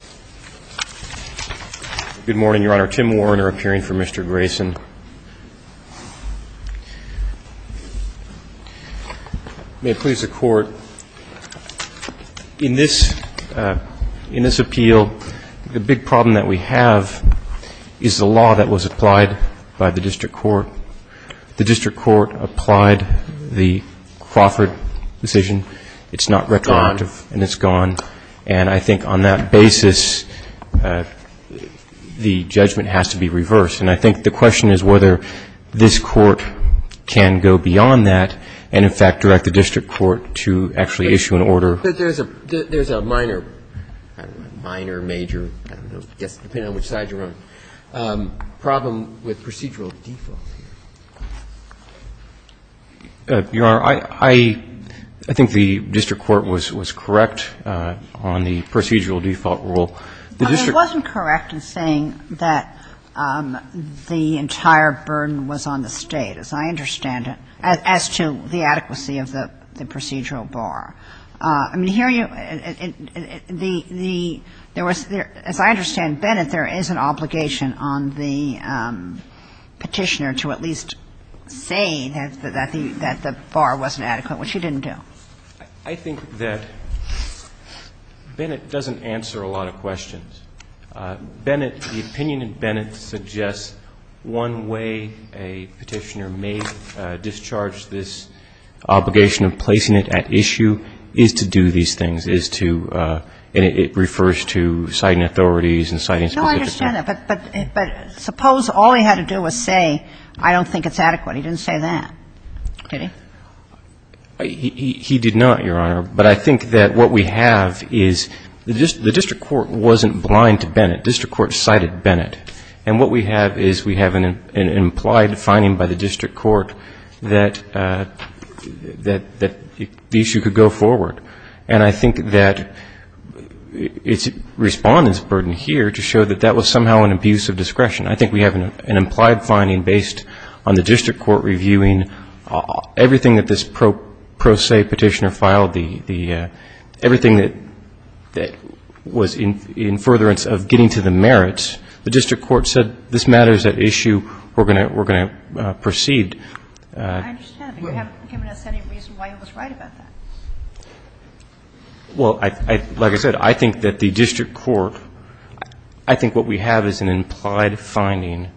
May it please the Court, in this appeal, the big problem that we have is the law that was applied by the District Court. The District Court applied the Crawford decision. It's not retroactive and it's gone. And I think on that basis, the judgment has to be reversed. And I think the question is whether this Court can go beyond that and, in fact, direct the District Court to actually issue an order. But there's a minor, minor, major, I don't know, depending on which side you're on, problem with procedural default here. Your Honor, I think the District Court was correct on the procedural default rule. It wasn't correct in saying that the entire burden was on the State, as I understand it, as to the adequacy of the procedural bar. I mean, here you – the – there was – as I understand, Bennett, there is an obligation on the Petitioner to at least say that the bar wasn't adequate, which he didn't do. I think that Bennett doesn't answer a lot of questions. Bennett – the opinion in Bennett suggests one way a Petitioner may discharge this obligation of placing it at issue is to do these things, is to – and it refers to citing authorities and citing specific – No, I understand that. But suppose all he had to do was say, I don't think it's adequate. He didn't say that. Did he? He did not, Your Honor. But I think that what we have is the District Court wasn't blind to Bennett. District Court cited Bennett. And what we have is we have an implied finding by the District Court that the issue could go forward. And I think that it's Respondent's burden here to show that that was somehow an abuse of discretion. I think we have an implied finding based on the District Court reviewing everything that this pro se Petitioner filed, the – everything that was in furtherance of getting to the merits. The District Court said this matters at issue. We're going to proceed. I understand. But you haven't given us any reason why he was right about that. Well, like I said, I think that the District Court – I think what we have is an implied finding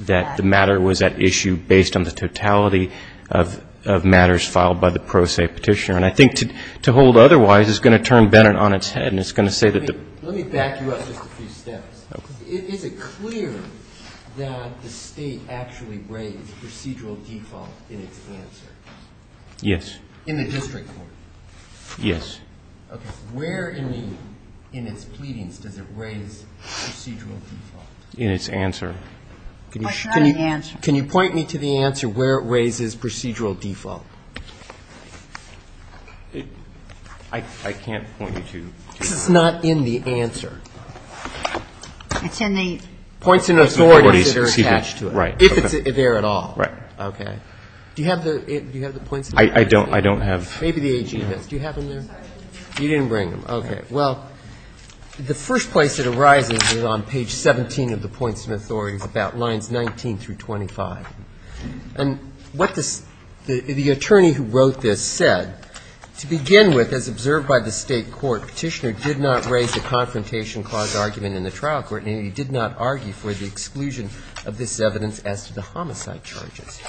that the matter was at issue based on the totality of matters filed by the pro se Petitioner. And I think to hold otherwise is going to turn Bennett on its head and it's going to say that the – Let me back you up just a few steps. Okay. Is it clear that the State actually raised procedural default in its answer? Yes. In the District Court? Yes. Okay. Where in the – in its pleadings does it raise procedural default? In its answer. Can you point me to the answer where it raises procedural default? I can't point you to it. It's not in the answer. It's in the – Points and authorities that are attached to it. Right. If it's there at all. Right. Okay. Do you have the points and authorities? I don't have – Maybe the AG has. Do you have them there? You didn't bring them. Okay. Well, the first place it arises is on page 17 of the points and authorities about lines 19 through 25. And what the – the attorney who wrote this said, to begin with, as observed by the State court, Petitioner did not raise the confrontation clause argument in the trial court, and he did not argue for the exclusion of this evidence as to the homicide charges.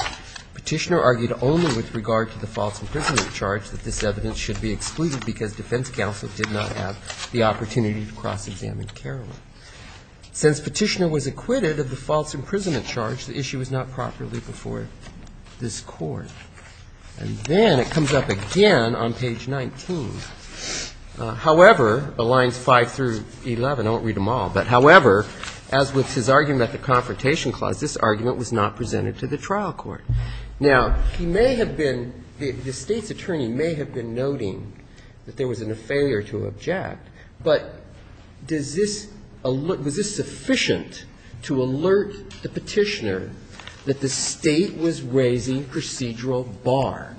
Petitioner argued only with regard to the false imprisonment charge that this evidence should be excluded because defense counsel did not have the opportunity to cross-examine Caroline. Since Petitioner was acquitted of the false imprisonment charge, the issue was not properly before this Court. And then it comes up again on page 19. However, the lines 5 through 11, I won't read them all, but however, as with his argument at the confrontation clause, this argument was not presented to the trial court. Now, he may have been – the State's attorney may have been noting that there was a failure to object, but does this – was this sufficient to alert the Petitioner that the State was raising procedural bar,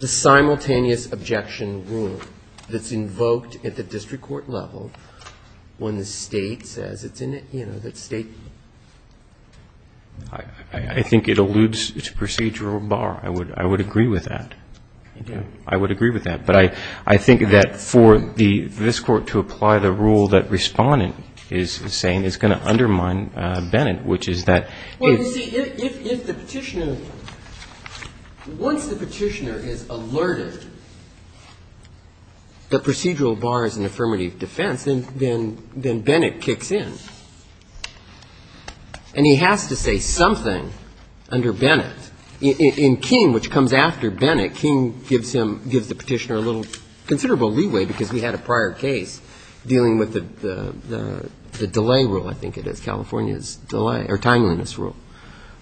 the simultaneous objection rule that's invoked at the district court level when the State says it's in a – you know, that State – I think it alludes to procedural bar. I would agree with that. I would agree with that. But I think that for the – this Court to apply the rule that Respondent is saying is going to undermine Bennett, which is that it's – Well, you see, if the Petitioner – once the Petitioner is alerted that procedural bar is an affirmative defense, then Bennett kicks in. And he has to say something under Bennett. In King, which comes after Bennett, King gives him – gives the Petitioner a little considerable leeway because we had a prior case dealing with the delay rule, I think it is, California's delay – or timeliness rule,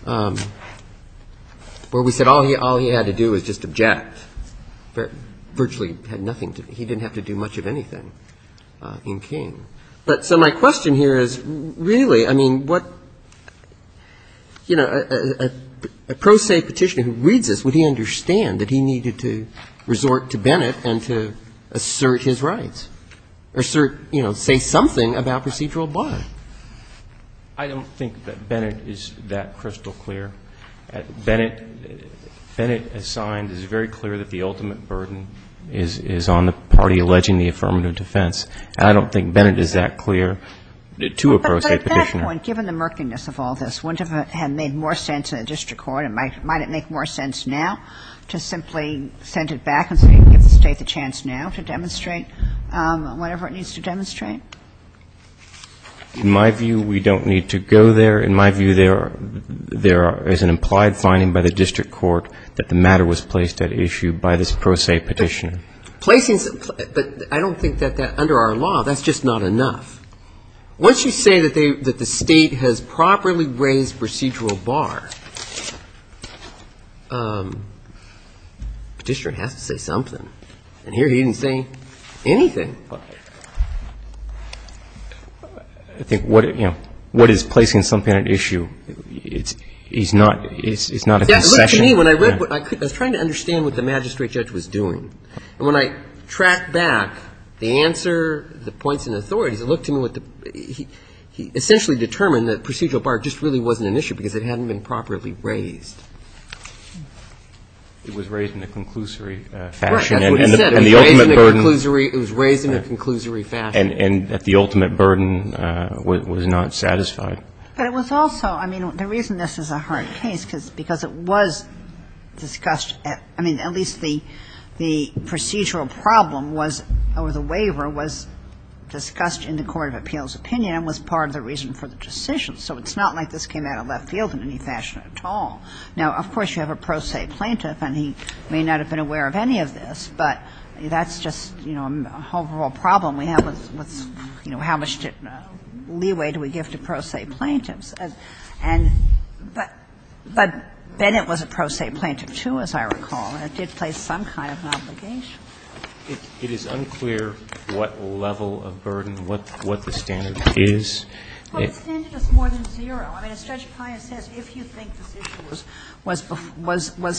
where we said all he – all he had to do was just object. Virtually had nothing to – he didn't have to do much of anything in King. But so my question here is, really, I mean, what – you know, a pro se Petitioner who reads this, would he understand that he needed to resort to Bennett and to assert his rights or assert – you know, say something about procedural bar? I don't think that Bennett is that crystal clear. Bennett – Bennett, as signed, is very clear that the ultimate burden is on the party alleging the affirmative defense. And I don't think Bennett is that clear to a pro se Petitioner. But at that point, given the murkiness of all this, wouldn't it have made more sense in a district court – might it make more sense now to simply send it back and say, give the State the chance now to demonstrate whatever it needs to demonstrate? In my view, we don't need to go there. In my view, there are – there is an implied finding by the district court that the matter was placed at issue by this pro se Petitioner. Placing – but I don't think that that – under our law, that's just not enough. Once you say that they – that the State has properly raised procedural bar, Petitioner has to say something. And here he didn't say anything. I think what – you know, what is placing something at issue is not – is not a concession. It looked to me, when I read – I was trying to understand what the magistrate judge was doing. And when I tracked back the answer, the points and authorities, it looked to me what the – he essentially determined that procedural bar just really wasn't an issue because it hadn't been properly raised. It was raised in a conclusory fashion. Right. That's what he said. It was raised in a conclusory – it was raised in a conclusory fashion. And that the ultimate burden was not satisfied. But it was also – I mean, the reason this is a hard case is because it was discussed at – I mean, at least the procedural problem was – or the waiver was discussed in the court of appeals' opinion and was part of the reason for the decision. So it's not like this came out of left field in any fashion at all. Now, of course, you have a pro se plaintiff, and he may not have been aware of any of this, but that's just, you know, a whole problem we have with, you know, how much leeway do we give to pro se plaintiffs. And – but Bennett was a pro se plaintiff, too, as I recall, and it did place some kind of an obligation. It is unclear what level of burden, what the standard is. Well, the standard is more than zero. I mean, as Judge Pius says, if you think this issue was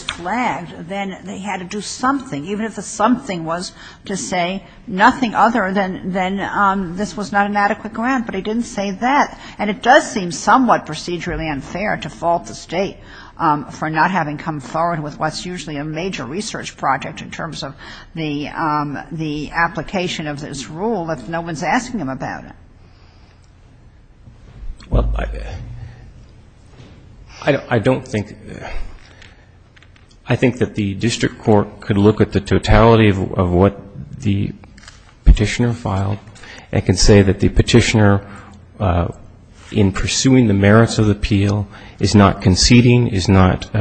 flagged, then they had to do something, even if the something was to say nothing other than this was not an adequate grant. But he didn't say that. And it does seem somewhat procedurally unfair to fault the State for not having come forward with what's usually a major research project in terms of the application of this rule if no one's asking them about it. Well, I don't think – I think that the district court could look at the totality of what the petitioner filed and can say that the petitioner, in pursuing the merits of the appeal, is not conceding, is not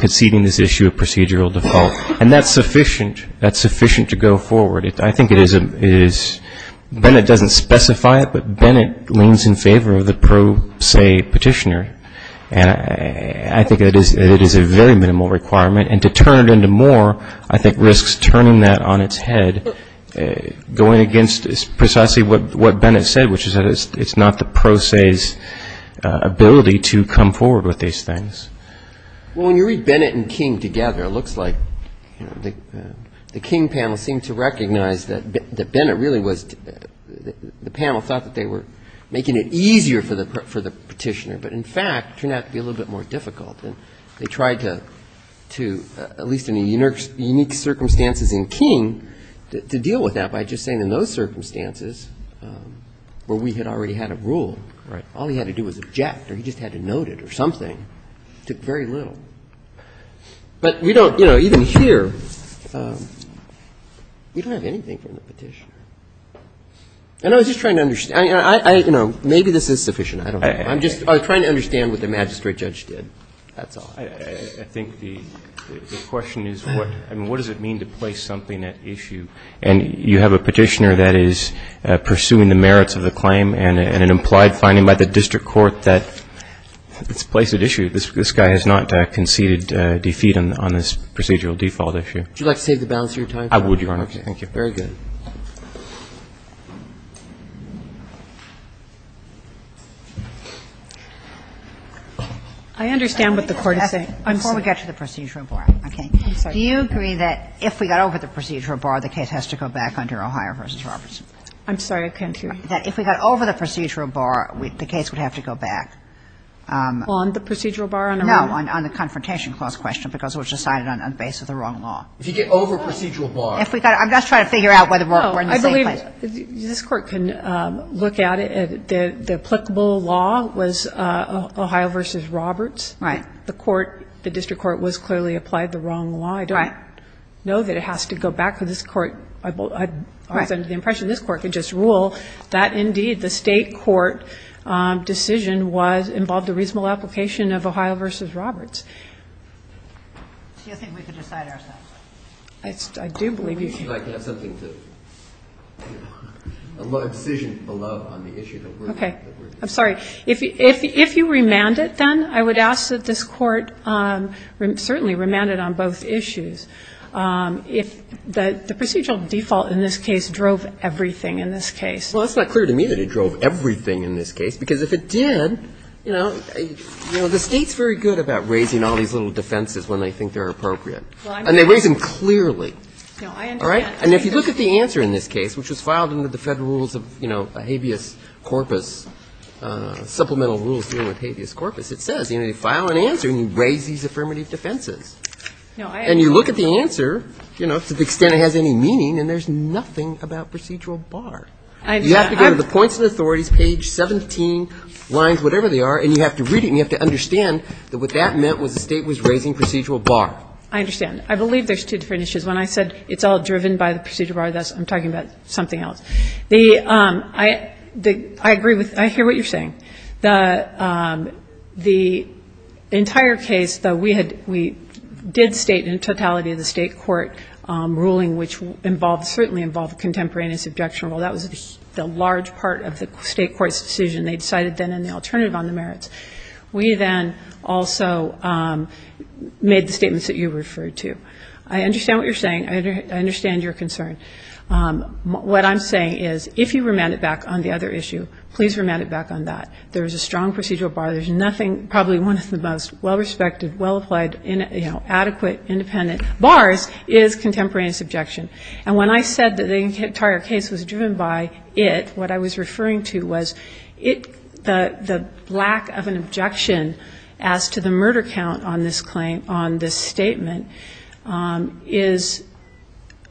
conceding this issue of procedural default. And that's sufficient. That's sufficient to go forward. I think it is – Bennett doesn't specify it, but Bennett leans in favor of the pro se petitioner. And I think it is a very minimal requirement. And to turn it into more, I think risks turning that on its head, going against precisely what Bennett said, which is that it's not the pro se's ability to come forward with these things. Well, when you read Bennett and King together, it looks like the King panel seemed to recognize that Bennett really was – the panel thought that they were making it easier for the petitioner. But in fact, it turned out to be a little bit more difficult. And they tried to, at least in the unique circumstances in King, to deal with that by just saying in those circumstances where we had already had a rule, all he had to do was object or he just had to note it or something. It took very little. But we don't – you know, even here, we don't have anything from the petitioner. And I was just trying to understand. I mean, I – you know, maybe this is sufficient. I don't know. I'm just trying to understand what the magistrate judge did. That's all. I think the question is what – I mean, what does it mean to place something at issue? And you have a petitioner that is pursuing the merits of the claim and an implied finding by the district court that it's placed at issue. This guy has not conceded defeat on this procedural default issue. Would you like to save the balance of your time? I would, Your Honor. Thank you. Very good. I understand what the Court is saying. I'm sorry. Before we get to the procedural bar, okay. I'm sorry. Do you agree that if we got over the procedural bar, the case has to go back under O'Hire v. Robertson? I'm sorry. I can't hear you. That if we got over the procedural bar, the case would have to go back. On the procedural bar? No, on the Confrontation Clause question, because it was decided on the basis of the wrong law. If you get over procedural bar. I'm just trying to figure out whether we're in the same place. I believe this Court can look at it. The applicable law was O'Hire v. Roberts. Right. The court, the district court, was clearly applied the wrong law. Right. I don't know that it has to go back to this Court. I was under the impression this Court could just rule that, indeed, the state court decision involved a reasonable application of O'Hire v. Roberts. Do you think we could decide ourselves? I do believe you can. I can have something to, a decision below on the issue. Okay. I'm sorry. If you remand it, then, I would ask that this Court certainly remand it on both issues. If the procedural default in this case drove everything in this case. Well, it's not clear to me that it drove everything in this case, because if it did, you know, the State's very good about raising all these little defenses when they think they're appropriate. And they raise them clearly. No, I understand. All right? And if you look at the answer in this case, which was filed under the Federal Rules of, you know, habeas corpus, supplemental rules dealing with habeas corpus, it says, you know, you file an answer and you raise these affirmative defenses. No, I understand. And you look at the answer, you know, to the extent it has any meaning, and there's nothing about procedural bar. I understand. You have to go to the points and authorities, page 17, lines, whatever they are, and you have to read it and you have to understand that what that meant was the State was raising procedural bar. I understand. I believe there's two different issues. When I said it's all driven by the procedural bar, I'm talking about something else. The – I agree with – I hear what you're saying. The entire case, though, we had – we did state in totality the State court ruling, which involved – certainly involved contemporaneous objectionable. That was the large part of the State court's decision. They decided then in the alternative on the merits. We then also made the statements that you referred to. I understand what you're saying. I understand your concern. What I'm saying is if you remand it back on the other issue, please remand it back on that. There is a strong procedural bar. There's nothing – probably one of the most well-respected, well-applied, you know, adequate, independent bars is contemporaneous objection. And when I said that the entire case was driven by it, what I was referring to was it – the lack of an objection as to the murder count on this claim – on this statement is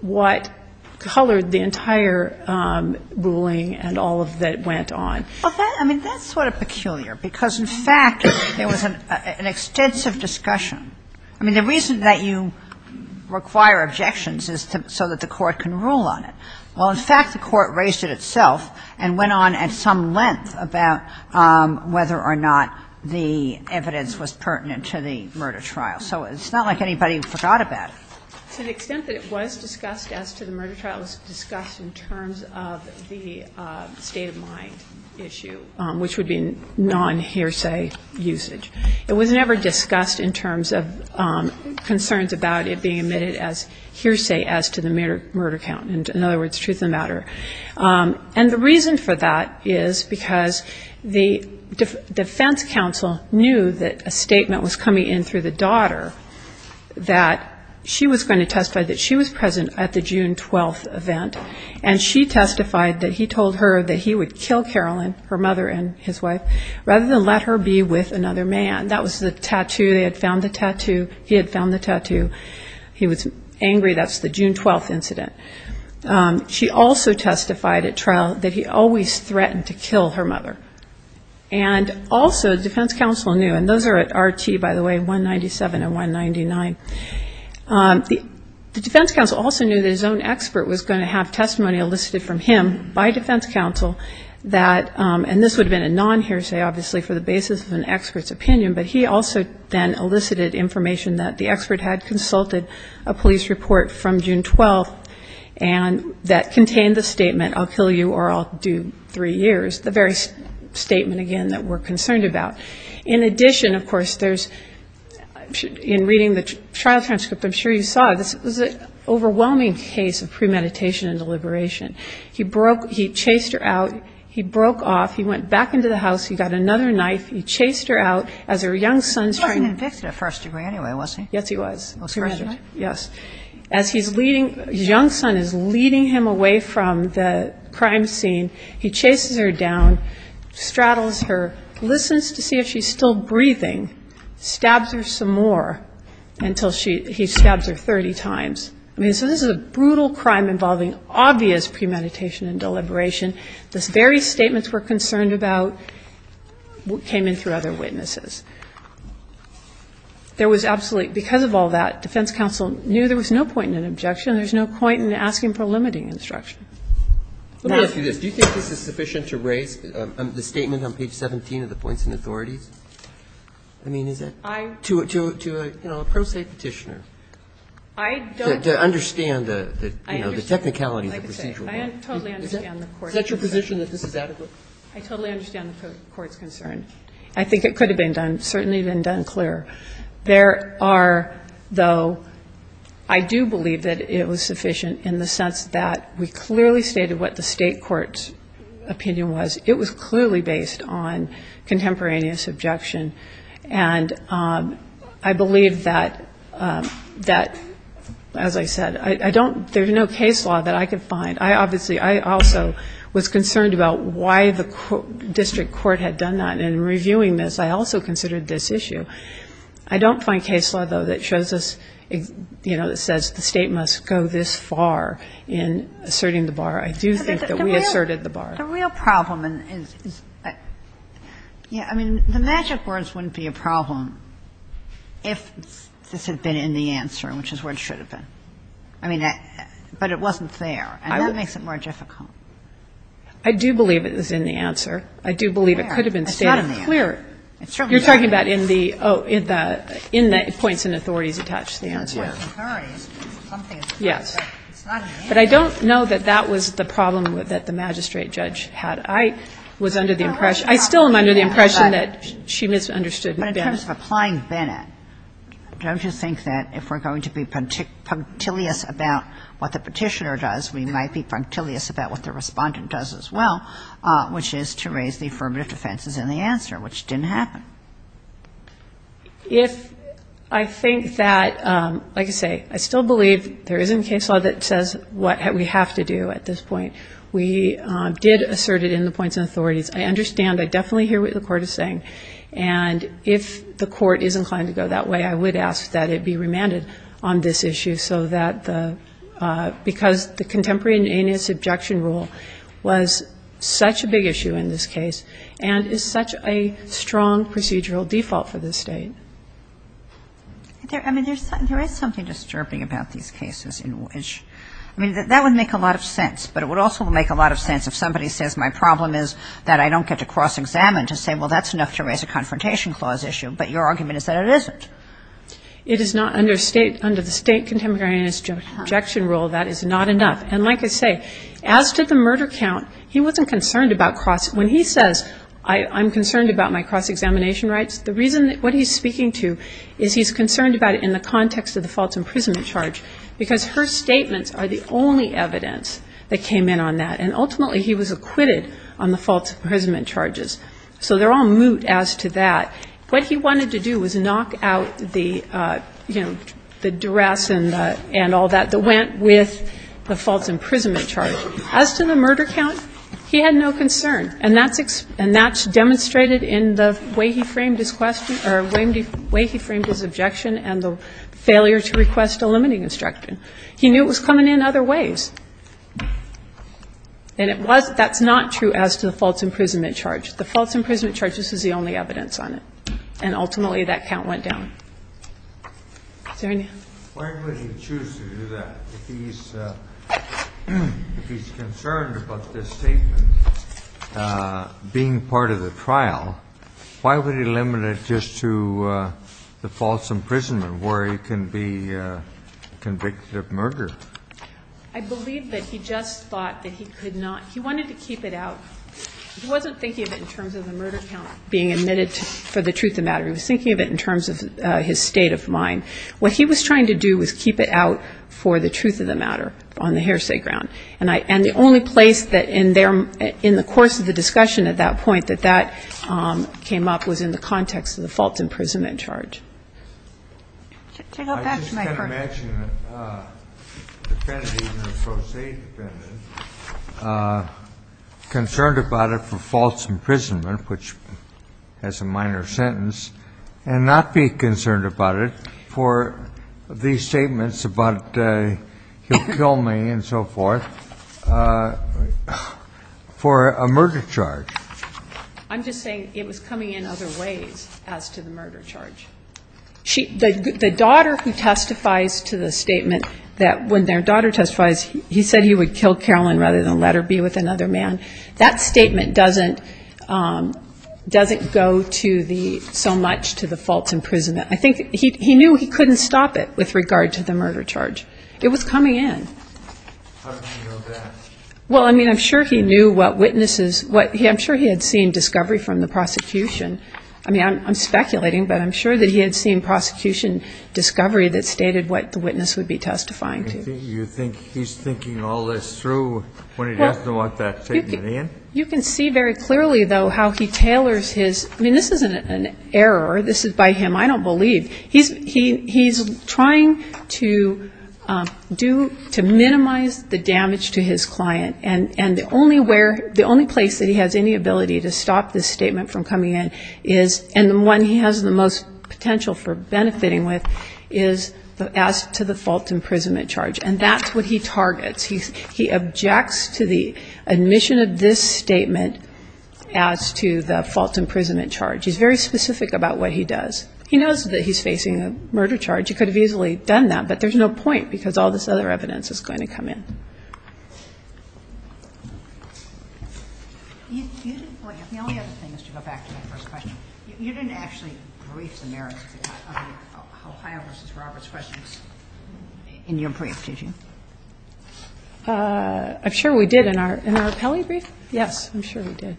what colored the entire ruling and all of that went on. Well, that – I mean, that's sort of peculiar because, in fact, there was an extensive discussion. I mean, the reason that you require objections is so that the court can rule on it. Well, in fact, the court raised it itself and went on at some length about whether or not the evidence was pertinent to the murder trial. So it's not like anybody forgot about it. To the extent that it was discussed as to the murder trial, it was discussed in terms of the state-of-mind issue, which would be non-hearsay usage. It was never discussed in terms of concerns about it being admitted as hearsay as to the murder count, in other words, truth of the matter. And the reason for that is because the defense counsel knew that a statement was coming in through the daughter that she was going to testify that she was present at the June 12th event. And she testified that he told her that he would kill Carolyn, her mother and his wife, rather than let her be with another man. That was the tattoo. They had found the tattoo. He had found the tattoo. He was angry. That's the June 12th incident. She also testified at trial that he always threatened to kill her mother. And also the defense counsel knew, and those are at RT, by the way, 197 and 199. The defense counsel also knew that his own expert was going to have testimony elicited from him by defense counsel that, and this would have been a non-hearsay, obviously, for the basis of an expert's opinion, but he also then elicited information that the expert had consulted a police report from June 12th that contained the statement, I'll kill you or I'll do three years, the very statement, again, that we're concerned about. In addition, of course, in reading the trial transcript, I'm sure you saw, this was an overwhelming case of premeditation and deliberation. He chased her out. He broke off. He went back into the house. He got another knife. He chased her out. As her young son's trying to ---- He wasn't convicted at first degree anyway, was he? Yes, he was. Was he? Yes. As he's leading, his young son is leading him away from the crime scene. He chases her down, straddles her, listens to see if she's still breathing, stabs her some more until he stabs her 30 times. I mean, so this is a brutal crime involving obvious premeditation and deliberation. The very statements we're concerned about came in through other witnesses. There was absolutely ---- because of all that, defense counsel knew there was no point in an objection. There's no point in asking for limiting instruction. Now ---- Let me ask you this. Do you think this is sufficient to raise the statement on page 17 of the points in authorities? I mean, is it? I ---- To a pro se Petitioner. I don't ---- To understand the technicalities of procedural law. I understand. Is that your position that this is adequate? I totally understand the Court's concern. I think it could have been done, certainly been done clearer. There are, though, I do believe that it was sufficient in the sense that we clearly stated what the State court's opinion was. It was clearly based on contemporaneous objection. And I believe that, as I said, I don't ---- there's no case law that I could find. I obviously ---- I also was concerned about why the district court had done that. And in reviewing this, I also considered this issue. I don't find case law, though, that shows us, you know, that says the State must go this far in asserting the bar. I do think that we asserted the bar. The real problem is ---- yeah, I mean, the magic words wouldn't be a problem if this had been in the answer, which is where it should have been. I mean, but it wasn't there. And that makes it more difficult. I do believe it was in the answer. I do believe it could have been stated clearer. It's not in the answer. It's certainly not in the answer. You're talking about in the ---- oh, in the points and authorities attached to the answer. Yeah. In the points and authorities, something is clear. Yes. But it's not in the answer. But I don't know that that was the problem that the magistrate judge had. I was under the impression ---- I still am under the impression that she misunderstood Bennett. But in terms of applying Bennett, don't you think that if we're going to be punctilious about what the Petitioner does, we might be punctilious about what the Respondent does as well, which is to raise the affirmative defenses in the answer, which didn't happen? If I think that ---- like I say, I still believe there isn't a case law that says what we have to do at this point. We did assert it in the points and authorities. I understand. I definitely hear what the Court is saying. And if the Court is inclined to go that way, I would ask that it be remanded on this issue so that the ---- because the contemporary inaneus objection rule was such a big issue in this case and is such a strong procedural default for this State. I mean, there is something disturbing about these cases in which ---- I mean, that would make a lot of sense. But it would also make a lot of sense if somebody says my problem is that I don't get to cross-examine to say, well, that's enough to raise a confrontation clause issue. But your argument is that it isn't. It is not under the State contemporary inaneus objection rule. That is not enough. And like I say, as to the murder count, he wasn't concerned about cross ---- when he says I'm concerned about my cross-examination rights, the reason that what he's speaking to is he's concerned about it in the context of the false imprisonment charge because her statements are the only evidence that came in on that. And ultimately, he was acquitted on the false imprisonment charges. So they're all moot as to that. What he wanted to do was knock out the, you know, the duress and all that that went with the false imprisonment charge. As to the murder count, he had no concern. And that's demonstrated in the way he framed his question or the way he framed his objection and the failure to request a limiting instruction. He knew it was coming in other ways. And it was ---- that's not true as to the false imprisonment charge. The false imprisonment charge, this is the only evidence on it. And ultimately, that count went down. Is there any? Kennedy. Why would he choose to do that? If he's concerned about this statement being part of the trial, why would he limit it just to the false imprisonment where he can be convicted of murder? I believe that he just thought that he could not ---- he wanted to keep it out. He wasn't thinking of it in terms of the murder count being admitted for the truth of the matter. He was thinking of it in terms of his state of mind. What he was trying to do was keep it out for the truth of the matter on the hearsay ground. And I ---- and the only place that in their ---- in the course of the discussion at that point that that came up was in the context of the false imprisonment charge. I just can't imagine a defendant, even a pro se defendant, concerned about it for false imprisonment, which has a minor sentence, and not be concerned about it for these statements about he'll kill me and so forth for a murder charge. I'm just saying it was coming in other ways as to the murder charge. She ---- the daughter who testifies to the statement that when their daughter testifies he said he would kill Carolyn rather than let her be with another man, that statement doesn't go to the ---- so much to the false imprisonment. I think he knew he couldn't stop it with regard to the murder charge. It was coming in. How did he know that? Well, I mean, I'm sure he knew what witnesses ---- I'm sure he had seen discovery from the prosecution. I mean, I'm speculating, but I'm sure that he had seen prosecution discovery that stated what the witness would be testifying to. You think he's thinking all this through when he doesn't want that statement in? You can see very clearly, though, how he tailors his ---- I mean, this isn't an error. This is by him. I don't believe. He's trying to do ---- to minimize the damage to his client. And the only where ---- the only place that he has any ability to stop this statement from coming in is ---- and the one he has the most potential for benefiting with is as to the false imprisonment charge. And that's what he targets. He objects to the admission of this statement as to the false imprisonment charge. He's very specific about what he does. He knows that he's facing a murder charge. He could have easily done that, but there's no point because all this other evidence is going to come in. The only other thing is to go back to my first question. You didn't actually brief the merits of the Ohio v. Roberts questions in your brief, did you? I'm sure we did in our appellee brief. Yes, I'm sure we did.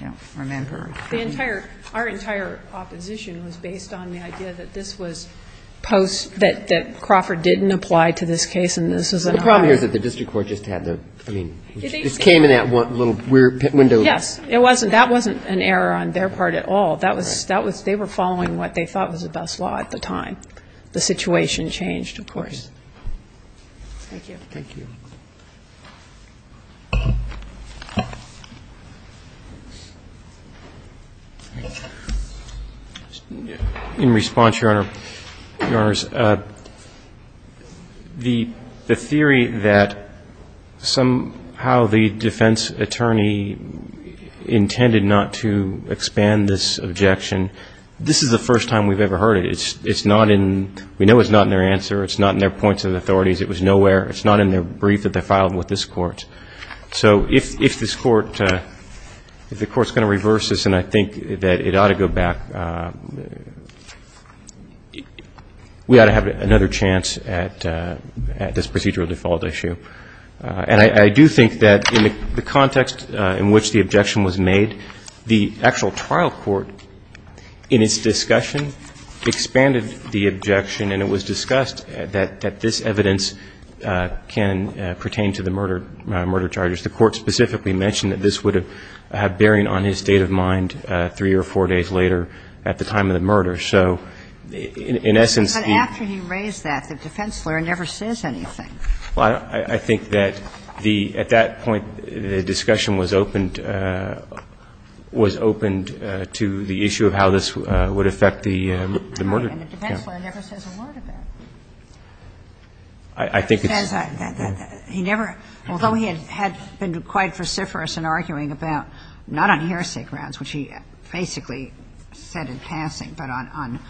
I don't remember. The entire ---- our entire opposition was based on the idea that this was post ---- that Crawford didn't apply to this case and this was in Ohio. The problem here is that the district court just had the, I mean, just came in that little window. Yes. It wasn't, that wasn't an error on their part at all. That was, that was, they were following what they thought was the best law at the time. The situation changed, of course. Thank you. Thank you. In response, Your Honor, Your Honors, the, the theory that somehow the defense attorney intended not to expand this objection, this is the first time we've ever heard it. It's, it's not in, we know it's not in their answer, it's not in their points of authorities, it was nowhere. It's not in their brief that they filed with this court. So if, if this court, if the court's going to reverse this and I think that it ought to go back, we ought to have another chance at, at this procedural default issue. And I, I do think that in the context in which the objection was made, the actual trial court in its discussion expanded the objection and it was discussed that, that this evidence can pertain to the murder, murder charges. The court specifically mentioned that this would have bearing on his state of mind three or four days later at the time of the murder. So in, in essence, the- But after he raised that, the defense lawyer never says anything. Well, I, I think that the, at that point, the discussion was opened, was opened by the defense lawyer. And the defense lawyer never says a word about it. I, I think it's- The defense, he never, although he had, had been quite vociferous in arguing about, not on hearsay grounds, which he basically said in passing, but on,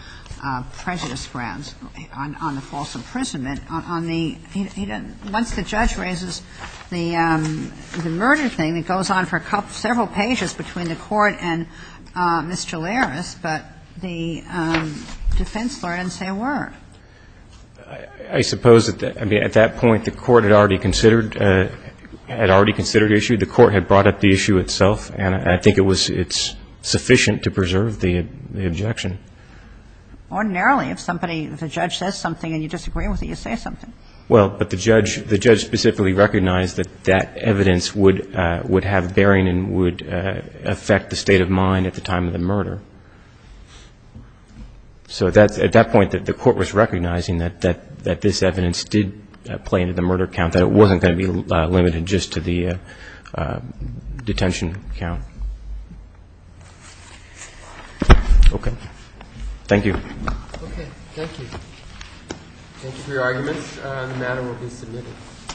on prejudice grounds, on, on the false imprisonment, on, on the, he doesn't, once the judge raises the, the murder thing, it goes on for a couple, several pages between the court and Ms. Jalares, but the defense lawyer didn't say a word. I, I suppose that, I mean, at that point, the court had already considered, had already considered the issue. The court had brought up the issue itself, and I think it was, it's sufficient to preserve the, the objection. Ordinarily, if somebody, if a judge says something and you disagree with it, you say something. Well, but the judge, the judge specifically recognized that that evidence would, would have bearing and would affect the state of mind at the time of the murder. So that's, at that point, that the court was recognizing that, that, that this evidence did play into the murder count, that it wasn't going to be limited just to the detention count. Okay. Thank you. Okay. Thank you. Thank you for your arguments. The matter will be submitted.